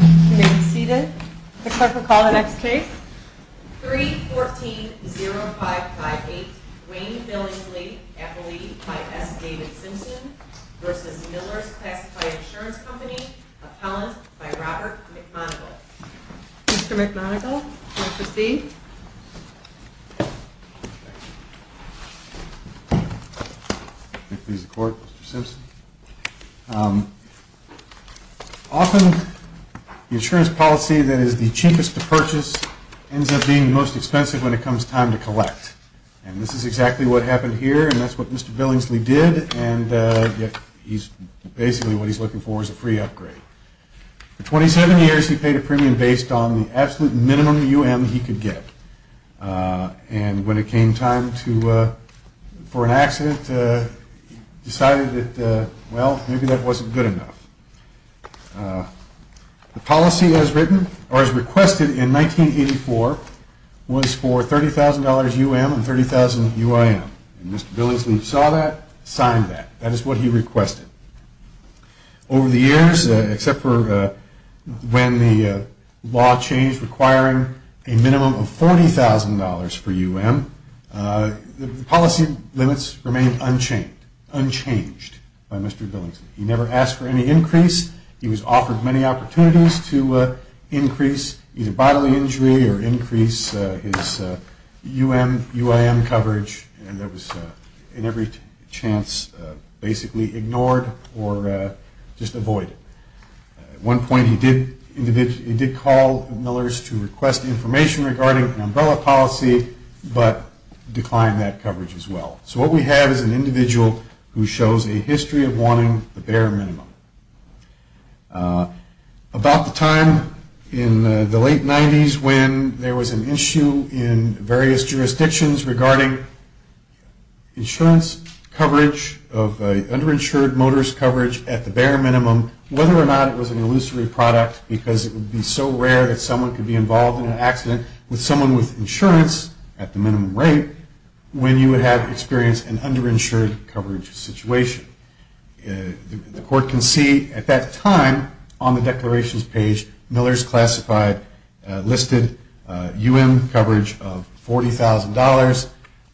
314-0558 Wayne Billingsley v. Millers Classified Insurance Company The insurance policy that is the cheapest to purchase ends up being the most expensive when it comes time to collect. And this is exactly what happened here, and that's what Mr. Billingsley did, and basically what he's looking for is a free upgrade. For 27 years, he paid a premium based on the absolute minimum UM he could get. And when it came time for an accident, he decided that, well, maybe that wasn't good enough. The policy as requested in 1984 was for $30,000 UM and $30,000 UIM. And Mr. Billingsley saw that, signed that. That is what he requested. Over the years, except for when the law changed requiring a minimum of $40,000 for UM, the policy limits remained unchanged by Mr. Billingsley. He never asked for any increase. He was offered many opportunities to increase either bodily injury or increase his UM, UIM coverage, and that was in every chance basically ignored or just avoided. At one point, he did call Millers to request information regarding an umbrella policy but declined that coverage as well. So what we have is an individual who shows a history of wanting the bare minimum. About the time in the late 90s when there was an issue in various jurisdictions regarding insurance coverage of underinsured motorist coverage at the bare minimum, whether or not it was an illusory product because it would be so rare that someone could be involved in an accident with someone with insurance at the minimum rate when you would have experienced an underinsured coverage situation. The court can see at that time on the declarations page, Millers classified listed UM coverage of $40,000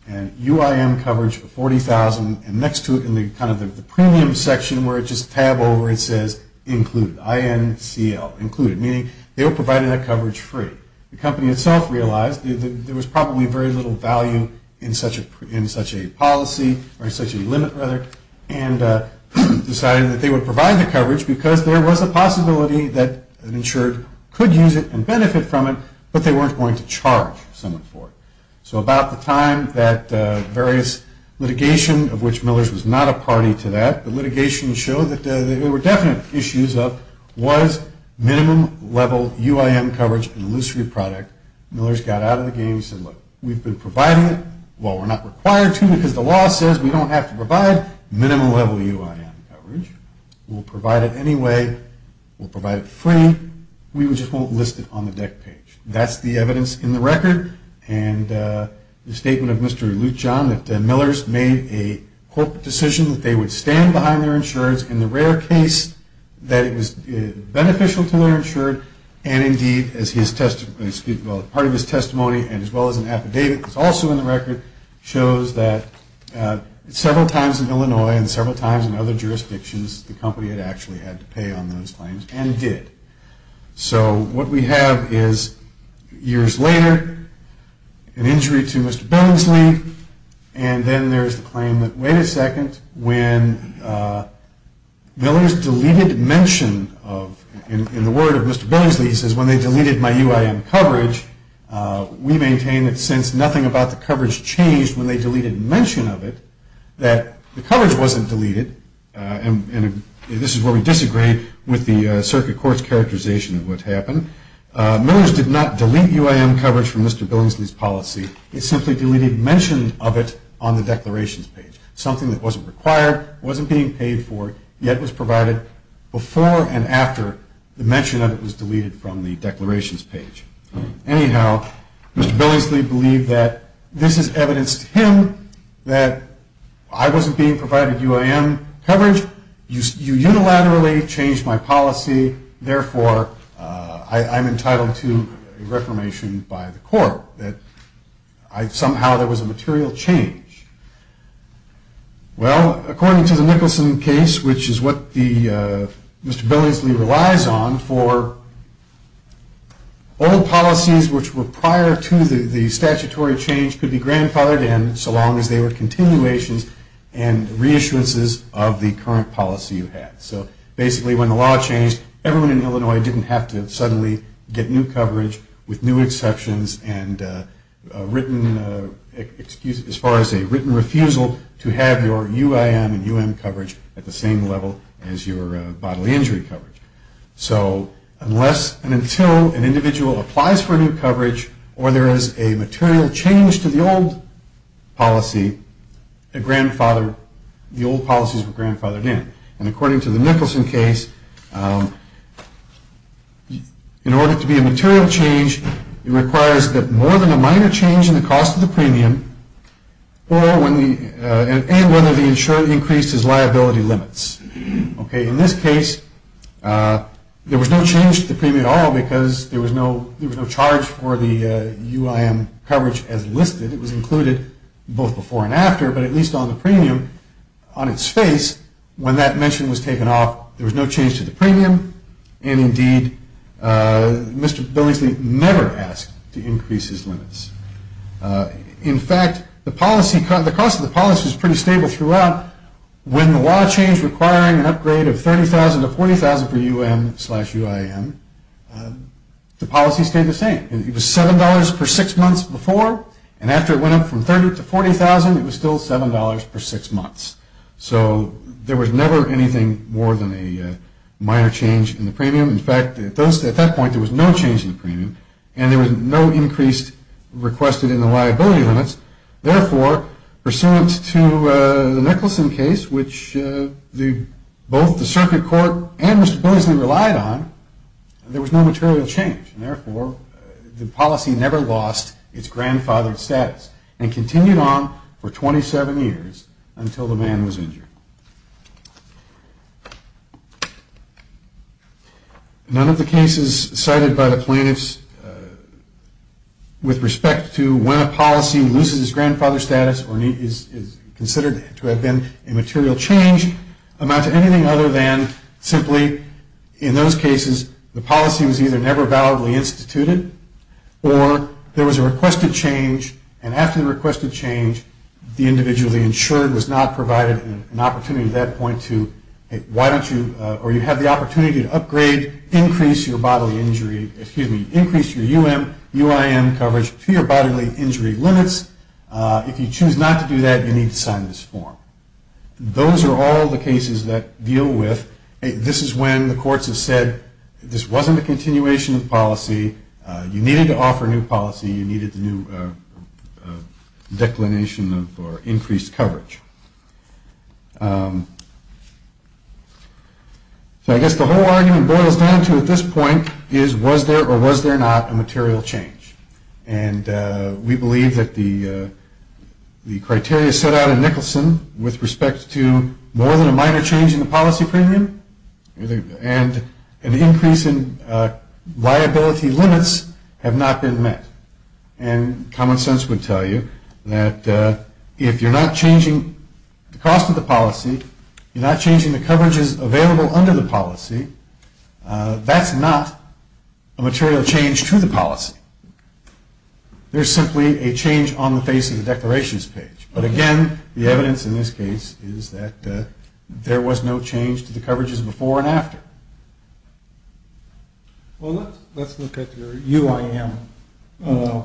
and UIM coverage of $40,000 and next to it in kind of the premium section where it just tab over, it says included, I-N-C-L, included, meaning they were provided that coverage free. The company itself realized there was probably very little value in such a policy or such a limit rather and decided that they would provide the coverage because there was a possibility that an insured could use it and benefit from it but they weren't going to charge someone for it. So about the time that various litigation of which Millers was not a party to that, the litigation showed that there were definite issues of was minimum level UIM coverage an illusory product. Millers got out of the game and said, look, we've been providing it. Well, we're not required to because the law says we don't have to provide minimum level UIM coverage. We'll provide it anyway. We'll provide it free. We just won't list it on the deck page. That's the evidence in the record and the statement of Mr. Lutjohn that Millers made a corporate decision that they would stand behind their insurers in the rare case that it was beneficial to their insured and indeed as part of his testimony and as well as an affidavit that's also in the record shows that several times in Illinois and several times in other jurisdictions, the company had actually had to pay on those claims and did. So what we have is years later, an injury to Mr. Billingsley, and then there's the claim that, wait a second, when Millers deleted mention of, in the word of Mr. Billingsley, he says, when they deleted my UIM coverage, we maintain that since nothing about the coverage changed when they deleted mention of it, that the coverage wasn't deleted, and this is where we disagree with the circuit court's characterization of what happened. Millers did not delete UIM coverage from Mr. Billingsley's policy. He simply deleted mention of it on the declarations page, something that wasn't required, wasn't being paid for, yet was provided before and after the mention of it was deleted from the declarations page. Anyhow, Mr. Billingsley believed that this is evidence to him that I wasn't being provided UIM coverage. You unilaterally changed my policy. Therefore, I'm entitled to a reformation by the court, that somehow there was a material change. Well, according to the Nicholson case, which is what Mr. Billingsley relies on for old policies which were prior to the statutory change could be grandfathered in, so long as they were continuations and reissuances of the current policy you had. So basically, when the law changed, everyone in Illinois didn't have to suddenly get new coverage with new exceptions and as far as a written refusal to have your UIM and UM coverage at the same level as your bodily injury coverage. So unless and until an individual applies for new coverage or there is a material change to the old policy, the old policies were grandfathered in. And according to the Nicholson case, in order to be a material change, it requires that more than a minor change in the cost of the premium and whether the insurance increases liability limits. In this case, there was no change to the premium at all because there was no charge for the UIM coverage as listed. It was included both before and after, but at least on the premium on its face when that mention was taken off, there was no change to the premium and indeed, Mr. Billingsley never asked to increase his limits. In fact, the cost of the policy was pretty stable throughout. When the law changed requiring an upgrade of $30,000 to $40,000 for UM slash UIM, the policy stayed the same. It was $7 per six months before, and after it went up from $30,000 to $40,000, it was still $7 per six months. So there was never anything more than a minor change in the premium. In fact, at that point, there was no change in the premium and there was no increase requested in the liability limits. Therefore, pursuant to the Nicholson case, which both the circuit court and Mr. Billingsley relied on, there was no material change. Therefore, the policy never lost its grandfathered status and continued on for 27 years until the man was injured. None of the cases cited by the plaintiffs with respect to when a policy loses its grandfather status or is considered to have been a material change amount to anything other than simply, in those cases, the policy was either never validly instituted or there was a requested change, and after the requested change, the individual insured was not provided an opportunity at that point to, hey, why don't you, or you have the opportunity to upgrade, increase your bodily injury, excuse me, increase your UIM coverage to your bodily injury limits. If you choose not to do that, you need to sign this form. Those are all the cases that deal with, hey, this is when the courts have said, hey, this wasn't a continuation of policy. You needed to offer new policy. You needed a new declination or increased coverage. So I guess the whole argument boils down to at this point is, was there or was there not a material change? And we believe that the criteria set out in Nicholson with respect to more than a minor change in the policy premium and an increase in liability limits have not been met. And common sense would tell you that if you're not changing the cost of the policy, you're not changing the coverages available under the policy, that's not a material change to the policy. There's simply a change on the face of the declarations page. But, again, the evidence in this case is that there was no change to the coverages before and after. Well, let's look at your UIM,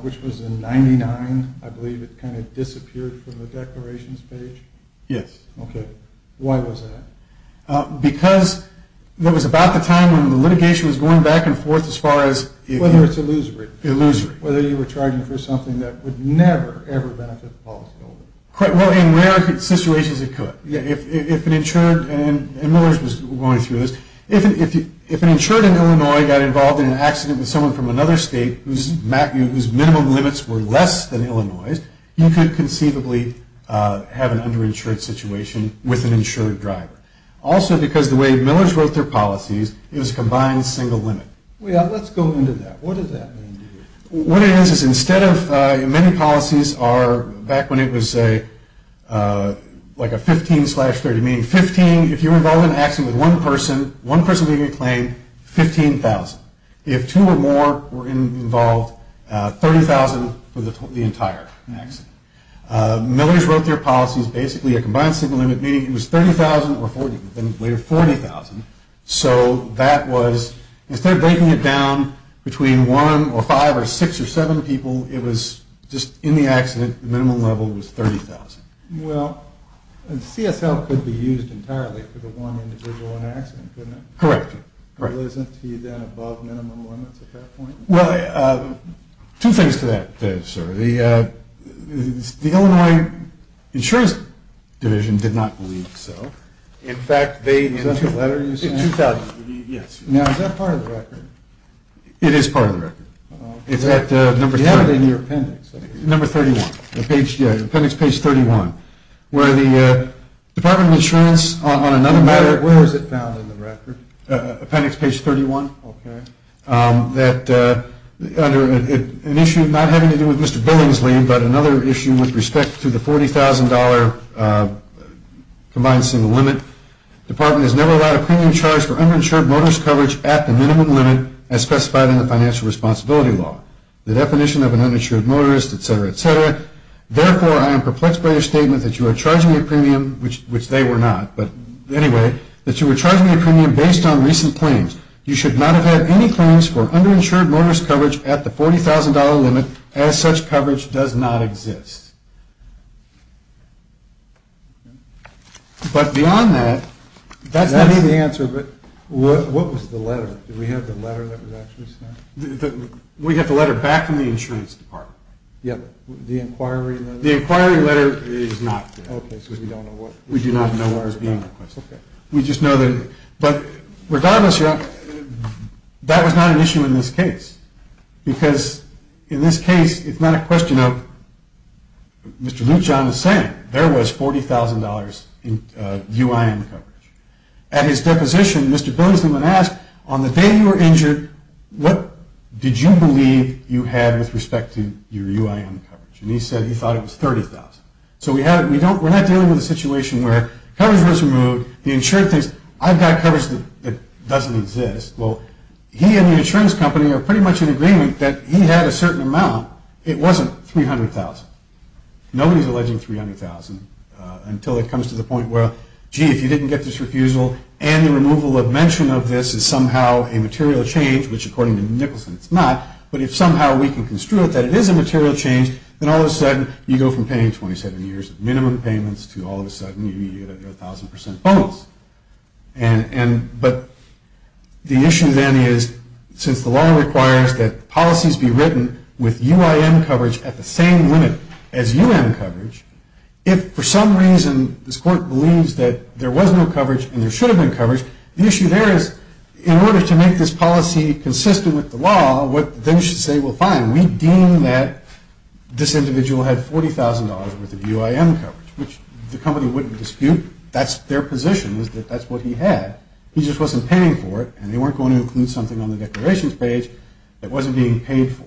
which was in 99. I believe it kind of disappeared from the declarations page. Yes. Okay. Why was that? Because it was about the time when the litigation was going back and forth as far as Whether it's illusory. Illusory. Whether you were charging for something that would never, ever benefit the policyholder. Well, in rare situations it could. If an insured, and Millers was going through this, if an insured in Illinois got involved in an accident with someone from another state whose minimum limits were less than Illinois', you could conceivably have an underinsured situation with an insured driver. Also, because the way Millers wrote their policies, it was combined single limit. Well, let's go into that. What does that mean? What it is is instead of many policies are back when it was like a 15 slash 30, meaning 15, if you were involved in an accident with one person, one person making a claim, 15,000. If two or more were involved, 30,000 for the entire accident. Millers wrote their policies basically a combined single limit, meaning it was 30,000 or 40,000. So that was, instead of breaking it down between one or five or six or seven people, it was just in the accident, the minimum level was 30,000. Well, CSL could be used entirely for the one individual on accident, couldn't it? Correct. Wasn't he then above minimum limits at that point? Well, two things to that, sir. The Illinois Insurance Division did not believe so. Is that the letter you sent? Yes. Now, is that part of the record? It is part of the record. Do you have it in your appendix? Number 31, appendix page 31, where the Department of Insurance on another matter. Where was it found in the record? Appendix page 31. Okay. That under an issue not having to do with Mr. Billingsley, but another issue with respect to the $40,000 combined single limit. The department has never allowed a premium charge for underinsured motorist coverage at the minimum limit, as specified in the financial responsibility law. The definition of an uninsured motorist, et cetera, et cetera. Therefore, I am perplexed by your statement that you are charging a premium, which they were not, but anyway, that you are charging a premium based on recent claims. You should not have had any claims for underinsured motorist coverage at the $40,000 limit, as such coverage does not exist. But beyond that, that's not the answer. What was the letter? Did we have the letter that was actually sent? We have the letter back from the insurance department. The inquiry letter? The inquiry letter is not there. Okay, so we don't know what was being requested. We do not know what was being requested. We just know that, but regardless, that was not an issue in this case, because in this case, it's not a question of Mr. Lujan is saying there was $40,000 UIM coverage. At his deposition, Mr. Billingsley would ask, on the day you were injured, what did you believe you had with respect to your UIM coverage? So we're not dealing with a situation where coverage was removed, the insurer thinks, I've got coverage that doesn't exist. Well, he and the insurance company are pretty much in agreement that he had a certain amount. It wasn't $300,000. Nobody's alleging $300,000 until it comes to the point where, gee, if you didn't get this refusal and the removal of mention of this is somehow a material change, which according to Nicholson it's not, but if somehow we can construe it that it is a material change, then all of a sudden you go from paying 27 years of minimum payments to all of a sudden you get a 1,000% bonus. But the issue then is, since the law requires that policies be written with UIM coverage at the same limit as UIM coverage, if for some reason this court believes that there was no coverage and there should have been coverage, the issue there is, in order to make this policy consistent with the law, they should say, well, fine, we deem that this individual had $40,000 worth of UIM coverage, which the company wouldn't dispute. That's their position is that that's what he had. He just wasn't paying for it, and they weren't going to include something on the declarations page that wasn't being paid for.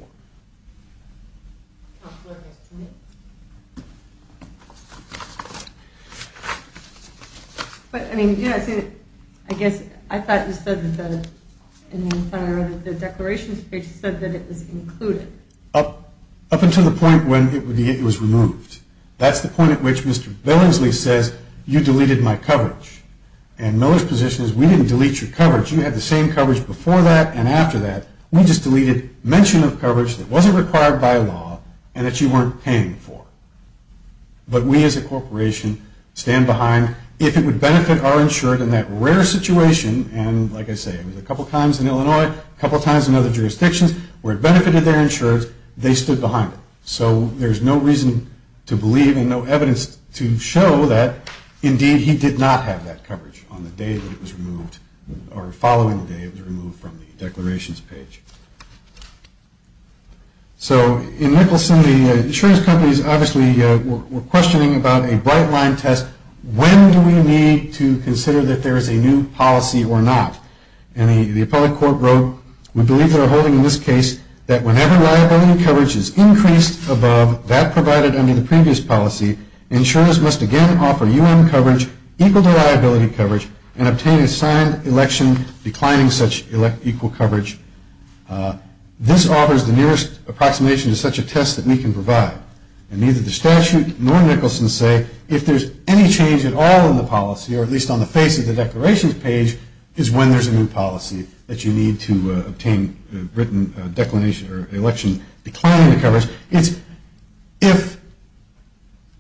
I guess I thought you said that the declarations page said that it was included. Up until the point when it was removed. That's the point at which Mr. Billingsley says, you deleted my coverage. And Miller's position is, we didn't delete your coverage. You had the same coverage before that and after that. We just deleted mention of coverage that wasn't required by law and that you weren't paying for. But we as a corporation stand behind. If it would benefit our insured in that rare situation, and like I say, it was a couple times in Illinois, a couple times in other jurisdictions, where it benefited their insureds, they stood behind it. So there's no reason to believe and no evidence to show that, indeed, he did not have that coverage on the day that it was removed, or following the day it was removed from the declarations page. So in Nicholson, the insurance companies obviously were questioning about a bright line test. When do we need to consider that there is a new policy or not? And the appellate court wrote, we believe they're holding in this case that whenever liability coverage is increased above that provided under the previous policy, insurance must again offer UM coverage equal to liability coverage and obtain a signed election declining such equal coverage. This offers the nearest approximation to such a test that we can provide. And neither the statute nor Nicholson say if there's any change at all in the policy, or at least on the face of the declarations page, is when there's a new policy that you need to obtain written declination or election declining coverage. If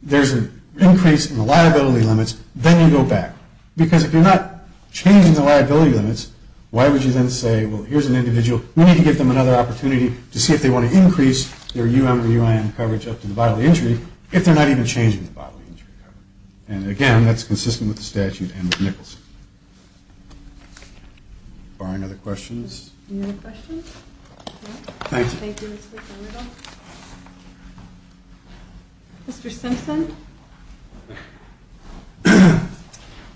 there's an increase in the liability limits, then you go back. Because if you're not changing the liability limits, why would you then say, well, here's an individual, we need to give them another opportunity to see if they want to increase their UM or UIN coverage up to the bodily injury if they're not even changing the bodily injury coverage. And again, that's consistent with the statute and with Nicholson. Are there any other questions? Any other questions? Thank you. Mr. Simpson.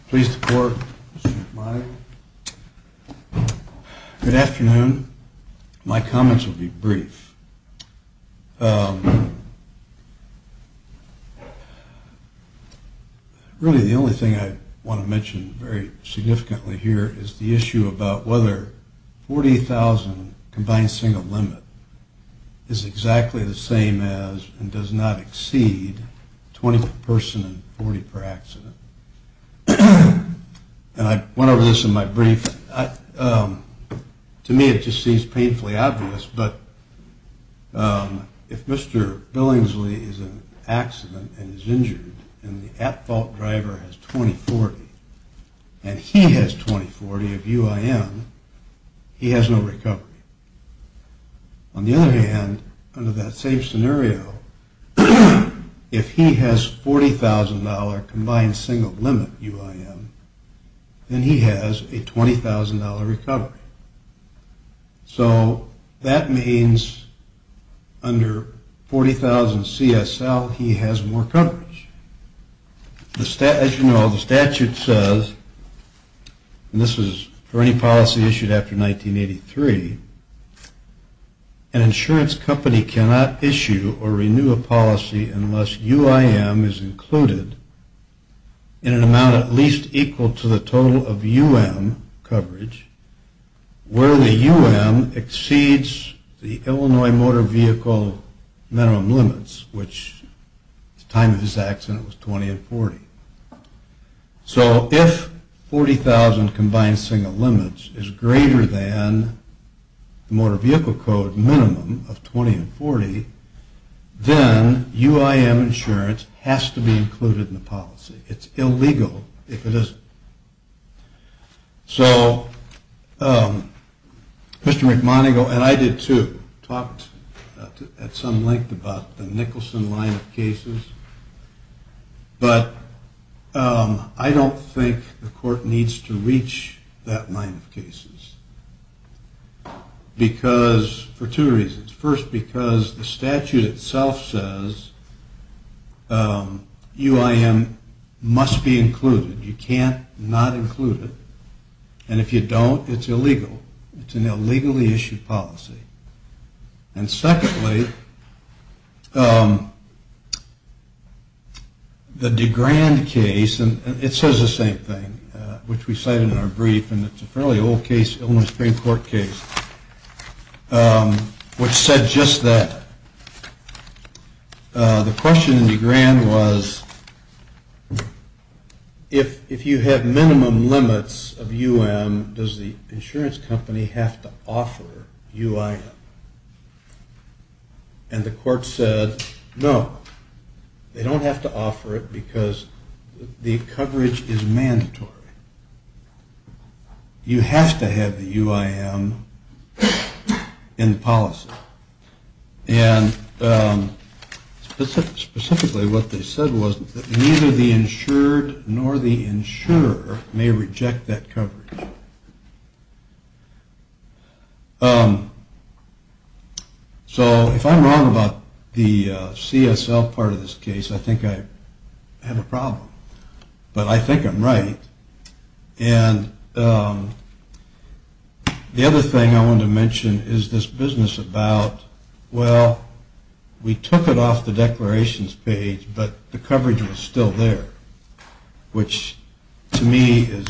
Pleased to court. Good afternoon. My comments will be brief. Really the only thing I want to mention very significantly here is the issue about whether 40,000 combined single limit is exactly the same as and does not exceed 20 per person and 40 per accident. And I went over this in my brief. To me it just seems painfully obvious, but if Mr. Billingsley is in an accident and is injured and the at-fault driver has 20-40 and he has 20-40 of UIN, he has no recovery. On the other hand, under that same scenario, if he has $40,000 combined single limit UIN, then he has a $20,000 recovery. So that means under 40,000 CSL he has more coverage. As you know, the statute says, and this is for any policy issued after 1983, an insurance company cannot issue or renew a policy unless UIM is included in an amount at least equal to the total of UIM coverage where the UIM exceeds the Illinois motor vehicle minimum limits, which at the time of this accident was 20 and 40. So if 40,000 combined single limits is greater than the motor vehicle code minimum of 20 and 40, then UIM insurance has to be included in the policy. It's illegal if it isn't. So Mr. McMoneagle, and I did too, talked at some length about the Nicholson line of cases, but I don't think the court needs to reach that line of cases for two reasons. First, because the statute itself says UIM must be included. You can't not include it. And if you don't, it's illegal. It's an illegally issued policy. And secondly, the DeGrand case, and it says the same thing, which we cited in our brief, and it's a fairly old case, Illinois Supreme Court case, which said just that. The question in DeGrand was, if you have minimum limits of UIM, does the insurance company have to offer UIM? And the court said, no. They don't have to offer it because the coverage is mandatory. You have to have the UIM in the policy. And specifically what they said was that neither the insured nor the insurer may reject that coverage. So if I'm wrong about the CSL part of this case, I think I have a problem. But I think I'm right. And the other thing I want to mention is this business about, well, we took it off the declarations page, but the coverage was still there, which to me is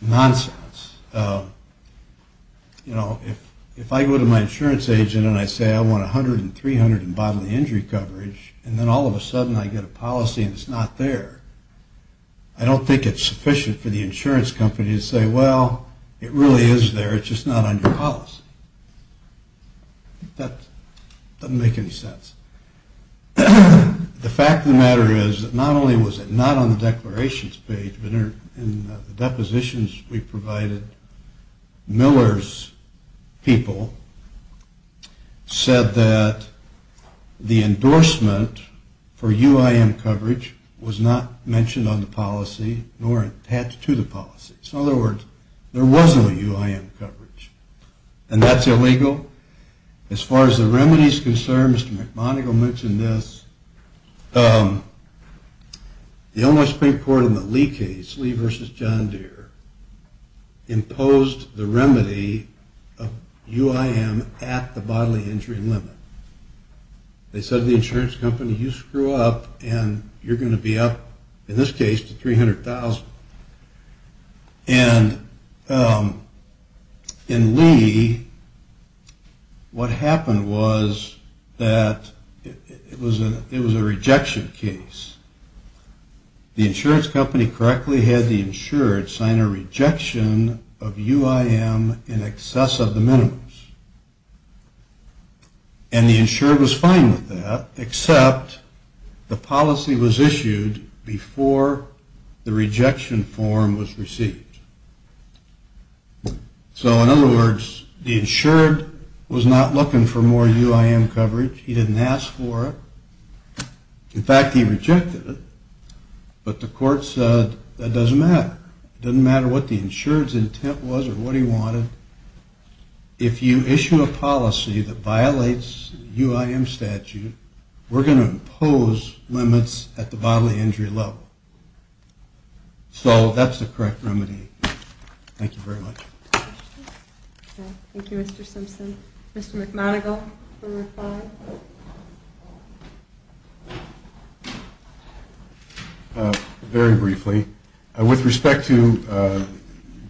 nonsense. You know, if I go to my insurance agent and I say I want 100 and 300 in bodily injury coverage, and then all of a sudden I get a policy and it's not there, I don't think it's sufficient for the insurance company to say, well, it really is there, it's just not on your policy. That doesn't make any sense. The fact of the matter is that not only was it not on the declarations page, but in the depositions we provided, Miller's people said that the endorsement for UIM coverage was not mentioned on the policy nor attached to the policy. So in other words, there was no UIM coverage. And that's illegal. As far as the remedy is concerned, Mr. McMonigle mentioned this. The only Supreme Court in the Lee case, Lee v. John Deere, imposed the remedy of UIM at the bodily injury limit. They said to the insurance company, you screw up and you're going to be up, in this case, to 300,000. And in Lee, what happened was that it was a rejection case. The insurance company correctly had the insured sign a rejection of UIM in excess of the minimums. And the insured was fine with that, except the policy was issued before the rejection form was received. So in other words, the insured was not looking for more UIM coverage. He didn't ask for it. In fact, he rejected it. But the court said, that doesn't matter. It doesn't matter what the insured's intent was or what he wanted. If you issue a policy that violates UIM statute, we're going to impose limits at the bodily injury level. So that's the correct remedy. Thank you very much. Thank you, Mr. Simpson. Mr. McMonigle, for reply? Very briefly. With respect to the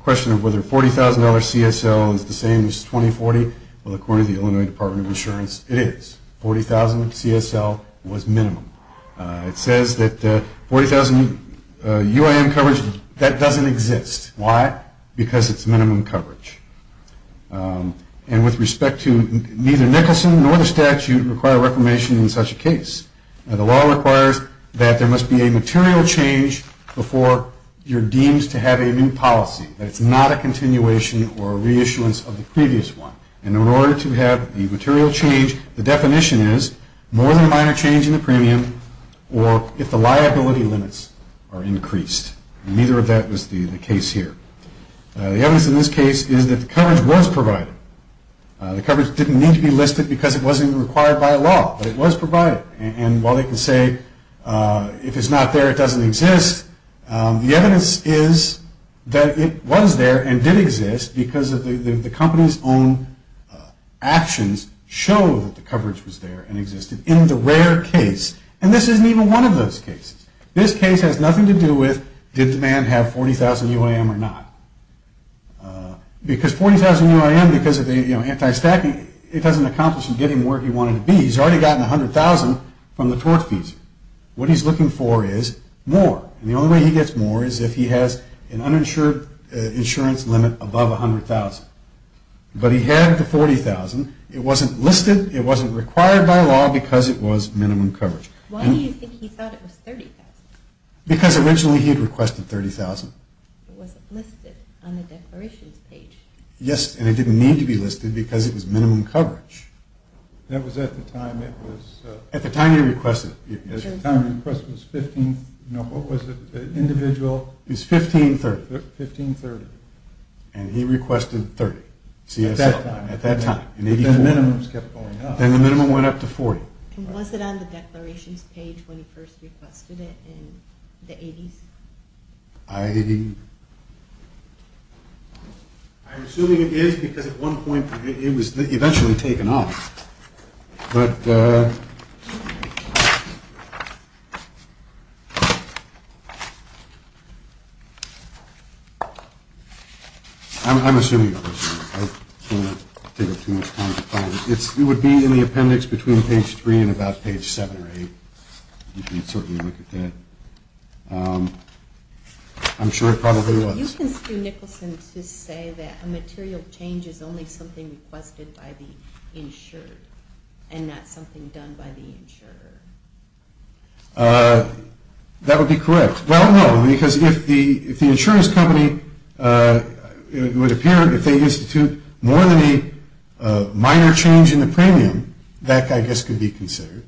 question of whether $40,000 CSL is the same as 2040, well, according to the Illinois Department of Insurance, it is. $40,000 CSL was minimum. It says that $40,000 UIM coverage, that doesn't exist. Why? Because it's minimum coverage. And with respect to neither Nicholson nor the statute require reclamation in such a case. The law requires that there must be a material change before you're deemed to have a new policy. That it's not a continuation or a reissuance of the previous one. And in order to have the material change, the definition is more than a minor change in the premium or if the liability limits are increased. Neither of that was the case here. The evidence in this case is that the coverage was provided. The coverage didn't need to be listed because it wasn't required by law. But it was provided. And while they can say if it's not there, it doesn't exist. The evidence is that it was there and did exist because the company's own actions show that the coverage was there and existed in the rare case. And this isn't even one of those cases. This case has nothing to do with did the man have $40,000 UIM or not. Because $40,000 UIM, because of the anti-stacking, it doesn't accomplish him getting where he wanted to be. He's already gotten $100,000 from the tort fees. What he's looking for is more. And the only way he gets more is if he has an uninsured insurance limit above $100,000. But he had the $40,000. It wasn't listed. It wasn't required by law because it was minimum coverage. Why do you think he thought it was $30,000? Because originally he had requested $30,000. It wasn't listed on the declarations page. Yes. And it didn't need to be listed because it was minimum coverage. That was at the time it was... At the time he requested it. At the time he requested it was 15... No, what was it? Individual... It was 1530. 1530. And he requested $30,000. At that time. At that time. Then the minimums kept going up. Then the minimum went up to $40,000. And was it on the declarations page when he first requested it in the 80s? I... I'm assuming it is because at one point it was eventually taken off. But... I'm assuming it was. I don't want to take up too much time to find it. It would be in the appendix between page 3 and about page 7 or 8. You can certainly look at that. I'm sure it probably was. You can sue Nicholson to say that a material change is only something requested by the insured and not something done by the insurer. That would be correct. Well, no, because if the insurance company would appear, if they institute more than a minor change in the premium, that, I guess, could be considered.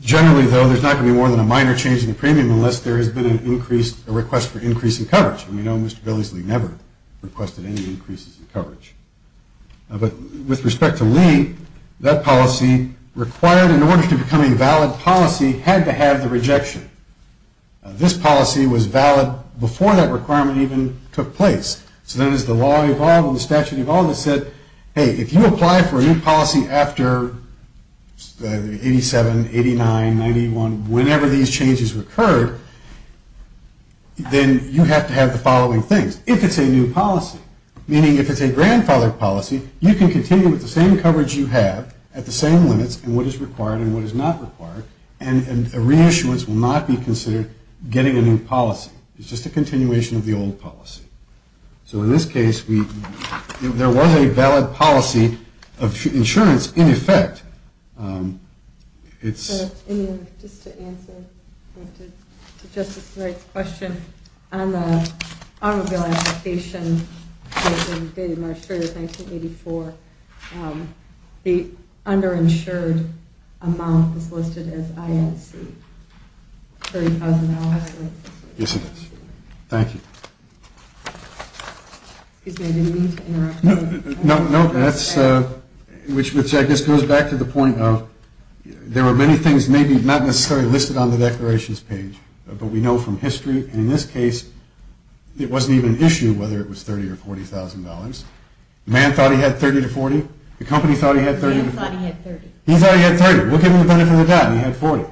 Generally, though, there's not going to be more than a minor change in the premium unless there has been an increase, a request for increase in coverage. And we know Mr. Billingsley never requested any increases in coverage. But with respect to Lee, that policy required, in order to become a valid policy, had to have the rejection. This policy was valid before that requirement even took place. So then as the law evolved and the statute evolved, it said, hey, if you apply for a new policy after 87, 89, 91, whenever these changes occurred, then you have to have the following things. If it's a new policy, meaning if it's a grandfather policy, you can continue with the same coverage you have at the same limits and what is required and what is not required, and a reissuance will not be considered getting a new policy. It's just a continuation of the old policy. So in this case, there was a valid policy of insurance in effect. Just to answer Justice Wright's question, on the automobile application dated March 30, 1984, the underinsured amount is listed as INC, $30,000. Yes, it is. Thank you. No, no, that's, which I guess goes back to the point of, there were many things maybe not necessarily listed on the declarations page, but we know from history, in this case, it wasn't even issued whether it was $30,000 or $40,000. The man thought he had $30,000 to $40,000. The company thought he had $30,000 to $40,000. The man thought he had $30,000. He thought he had $30,000. We'll give him the benefit of the doubt, and he had $40,000.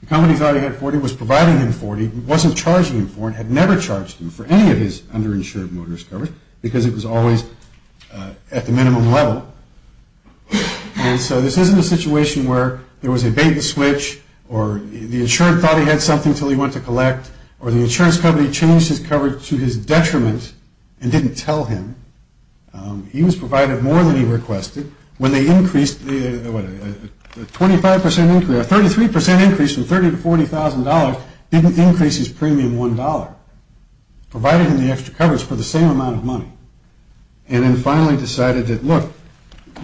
The company thought he had $40,000. It was providing him $40,000. It wasn't charging him for it. It had never charged him for any of his underinsured motorist coverage because it was always at the minimum level. And so this isn't a situation where there was a bait and switch, or the insurer thought he had something until he went to collect, or the insurance company changed his coverage to his detriment and didn't tell him. He was provided more than he requested. When they increased the, what, a 25% increase, a 33% increase from $30,000 to $40,000 didn't increase his premium $1, provided him the extra coverage for the same amount of money, and then finally decided that, look,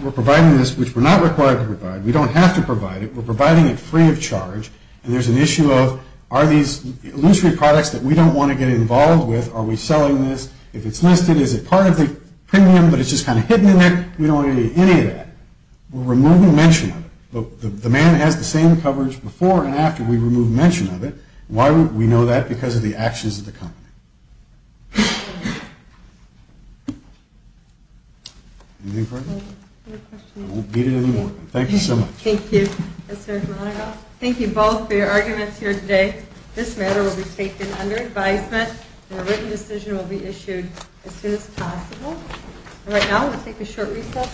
we're providing this, which we're not required to provide. We don't have to provide it. We're providing it free of charge, and there's an issue of, are these illusory products that we don't want to get involved with? Are we selling this? If it's listed, is it part of the premium, but it's just kind of hidden in there? We don't want any of that. We're removing mention of it. The man has the same coverage before and after we remove mention of it. Why would we know that? Because of the actions of the company. Anything further? Any questions? I won't beat it anymore. Thank you so much. Thank you. Thank you both for your arguments here today. This matter will be taken under advisement, and a written decision will be issued as soon as possible. Right now, we'll take a short recess.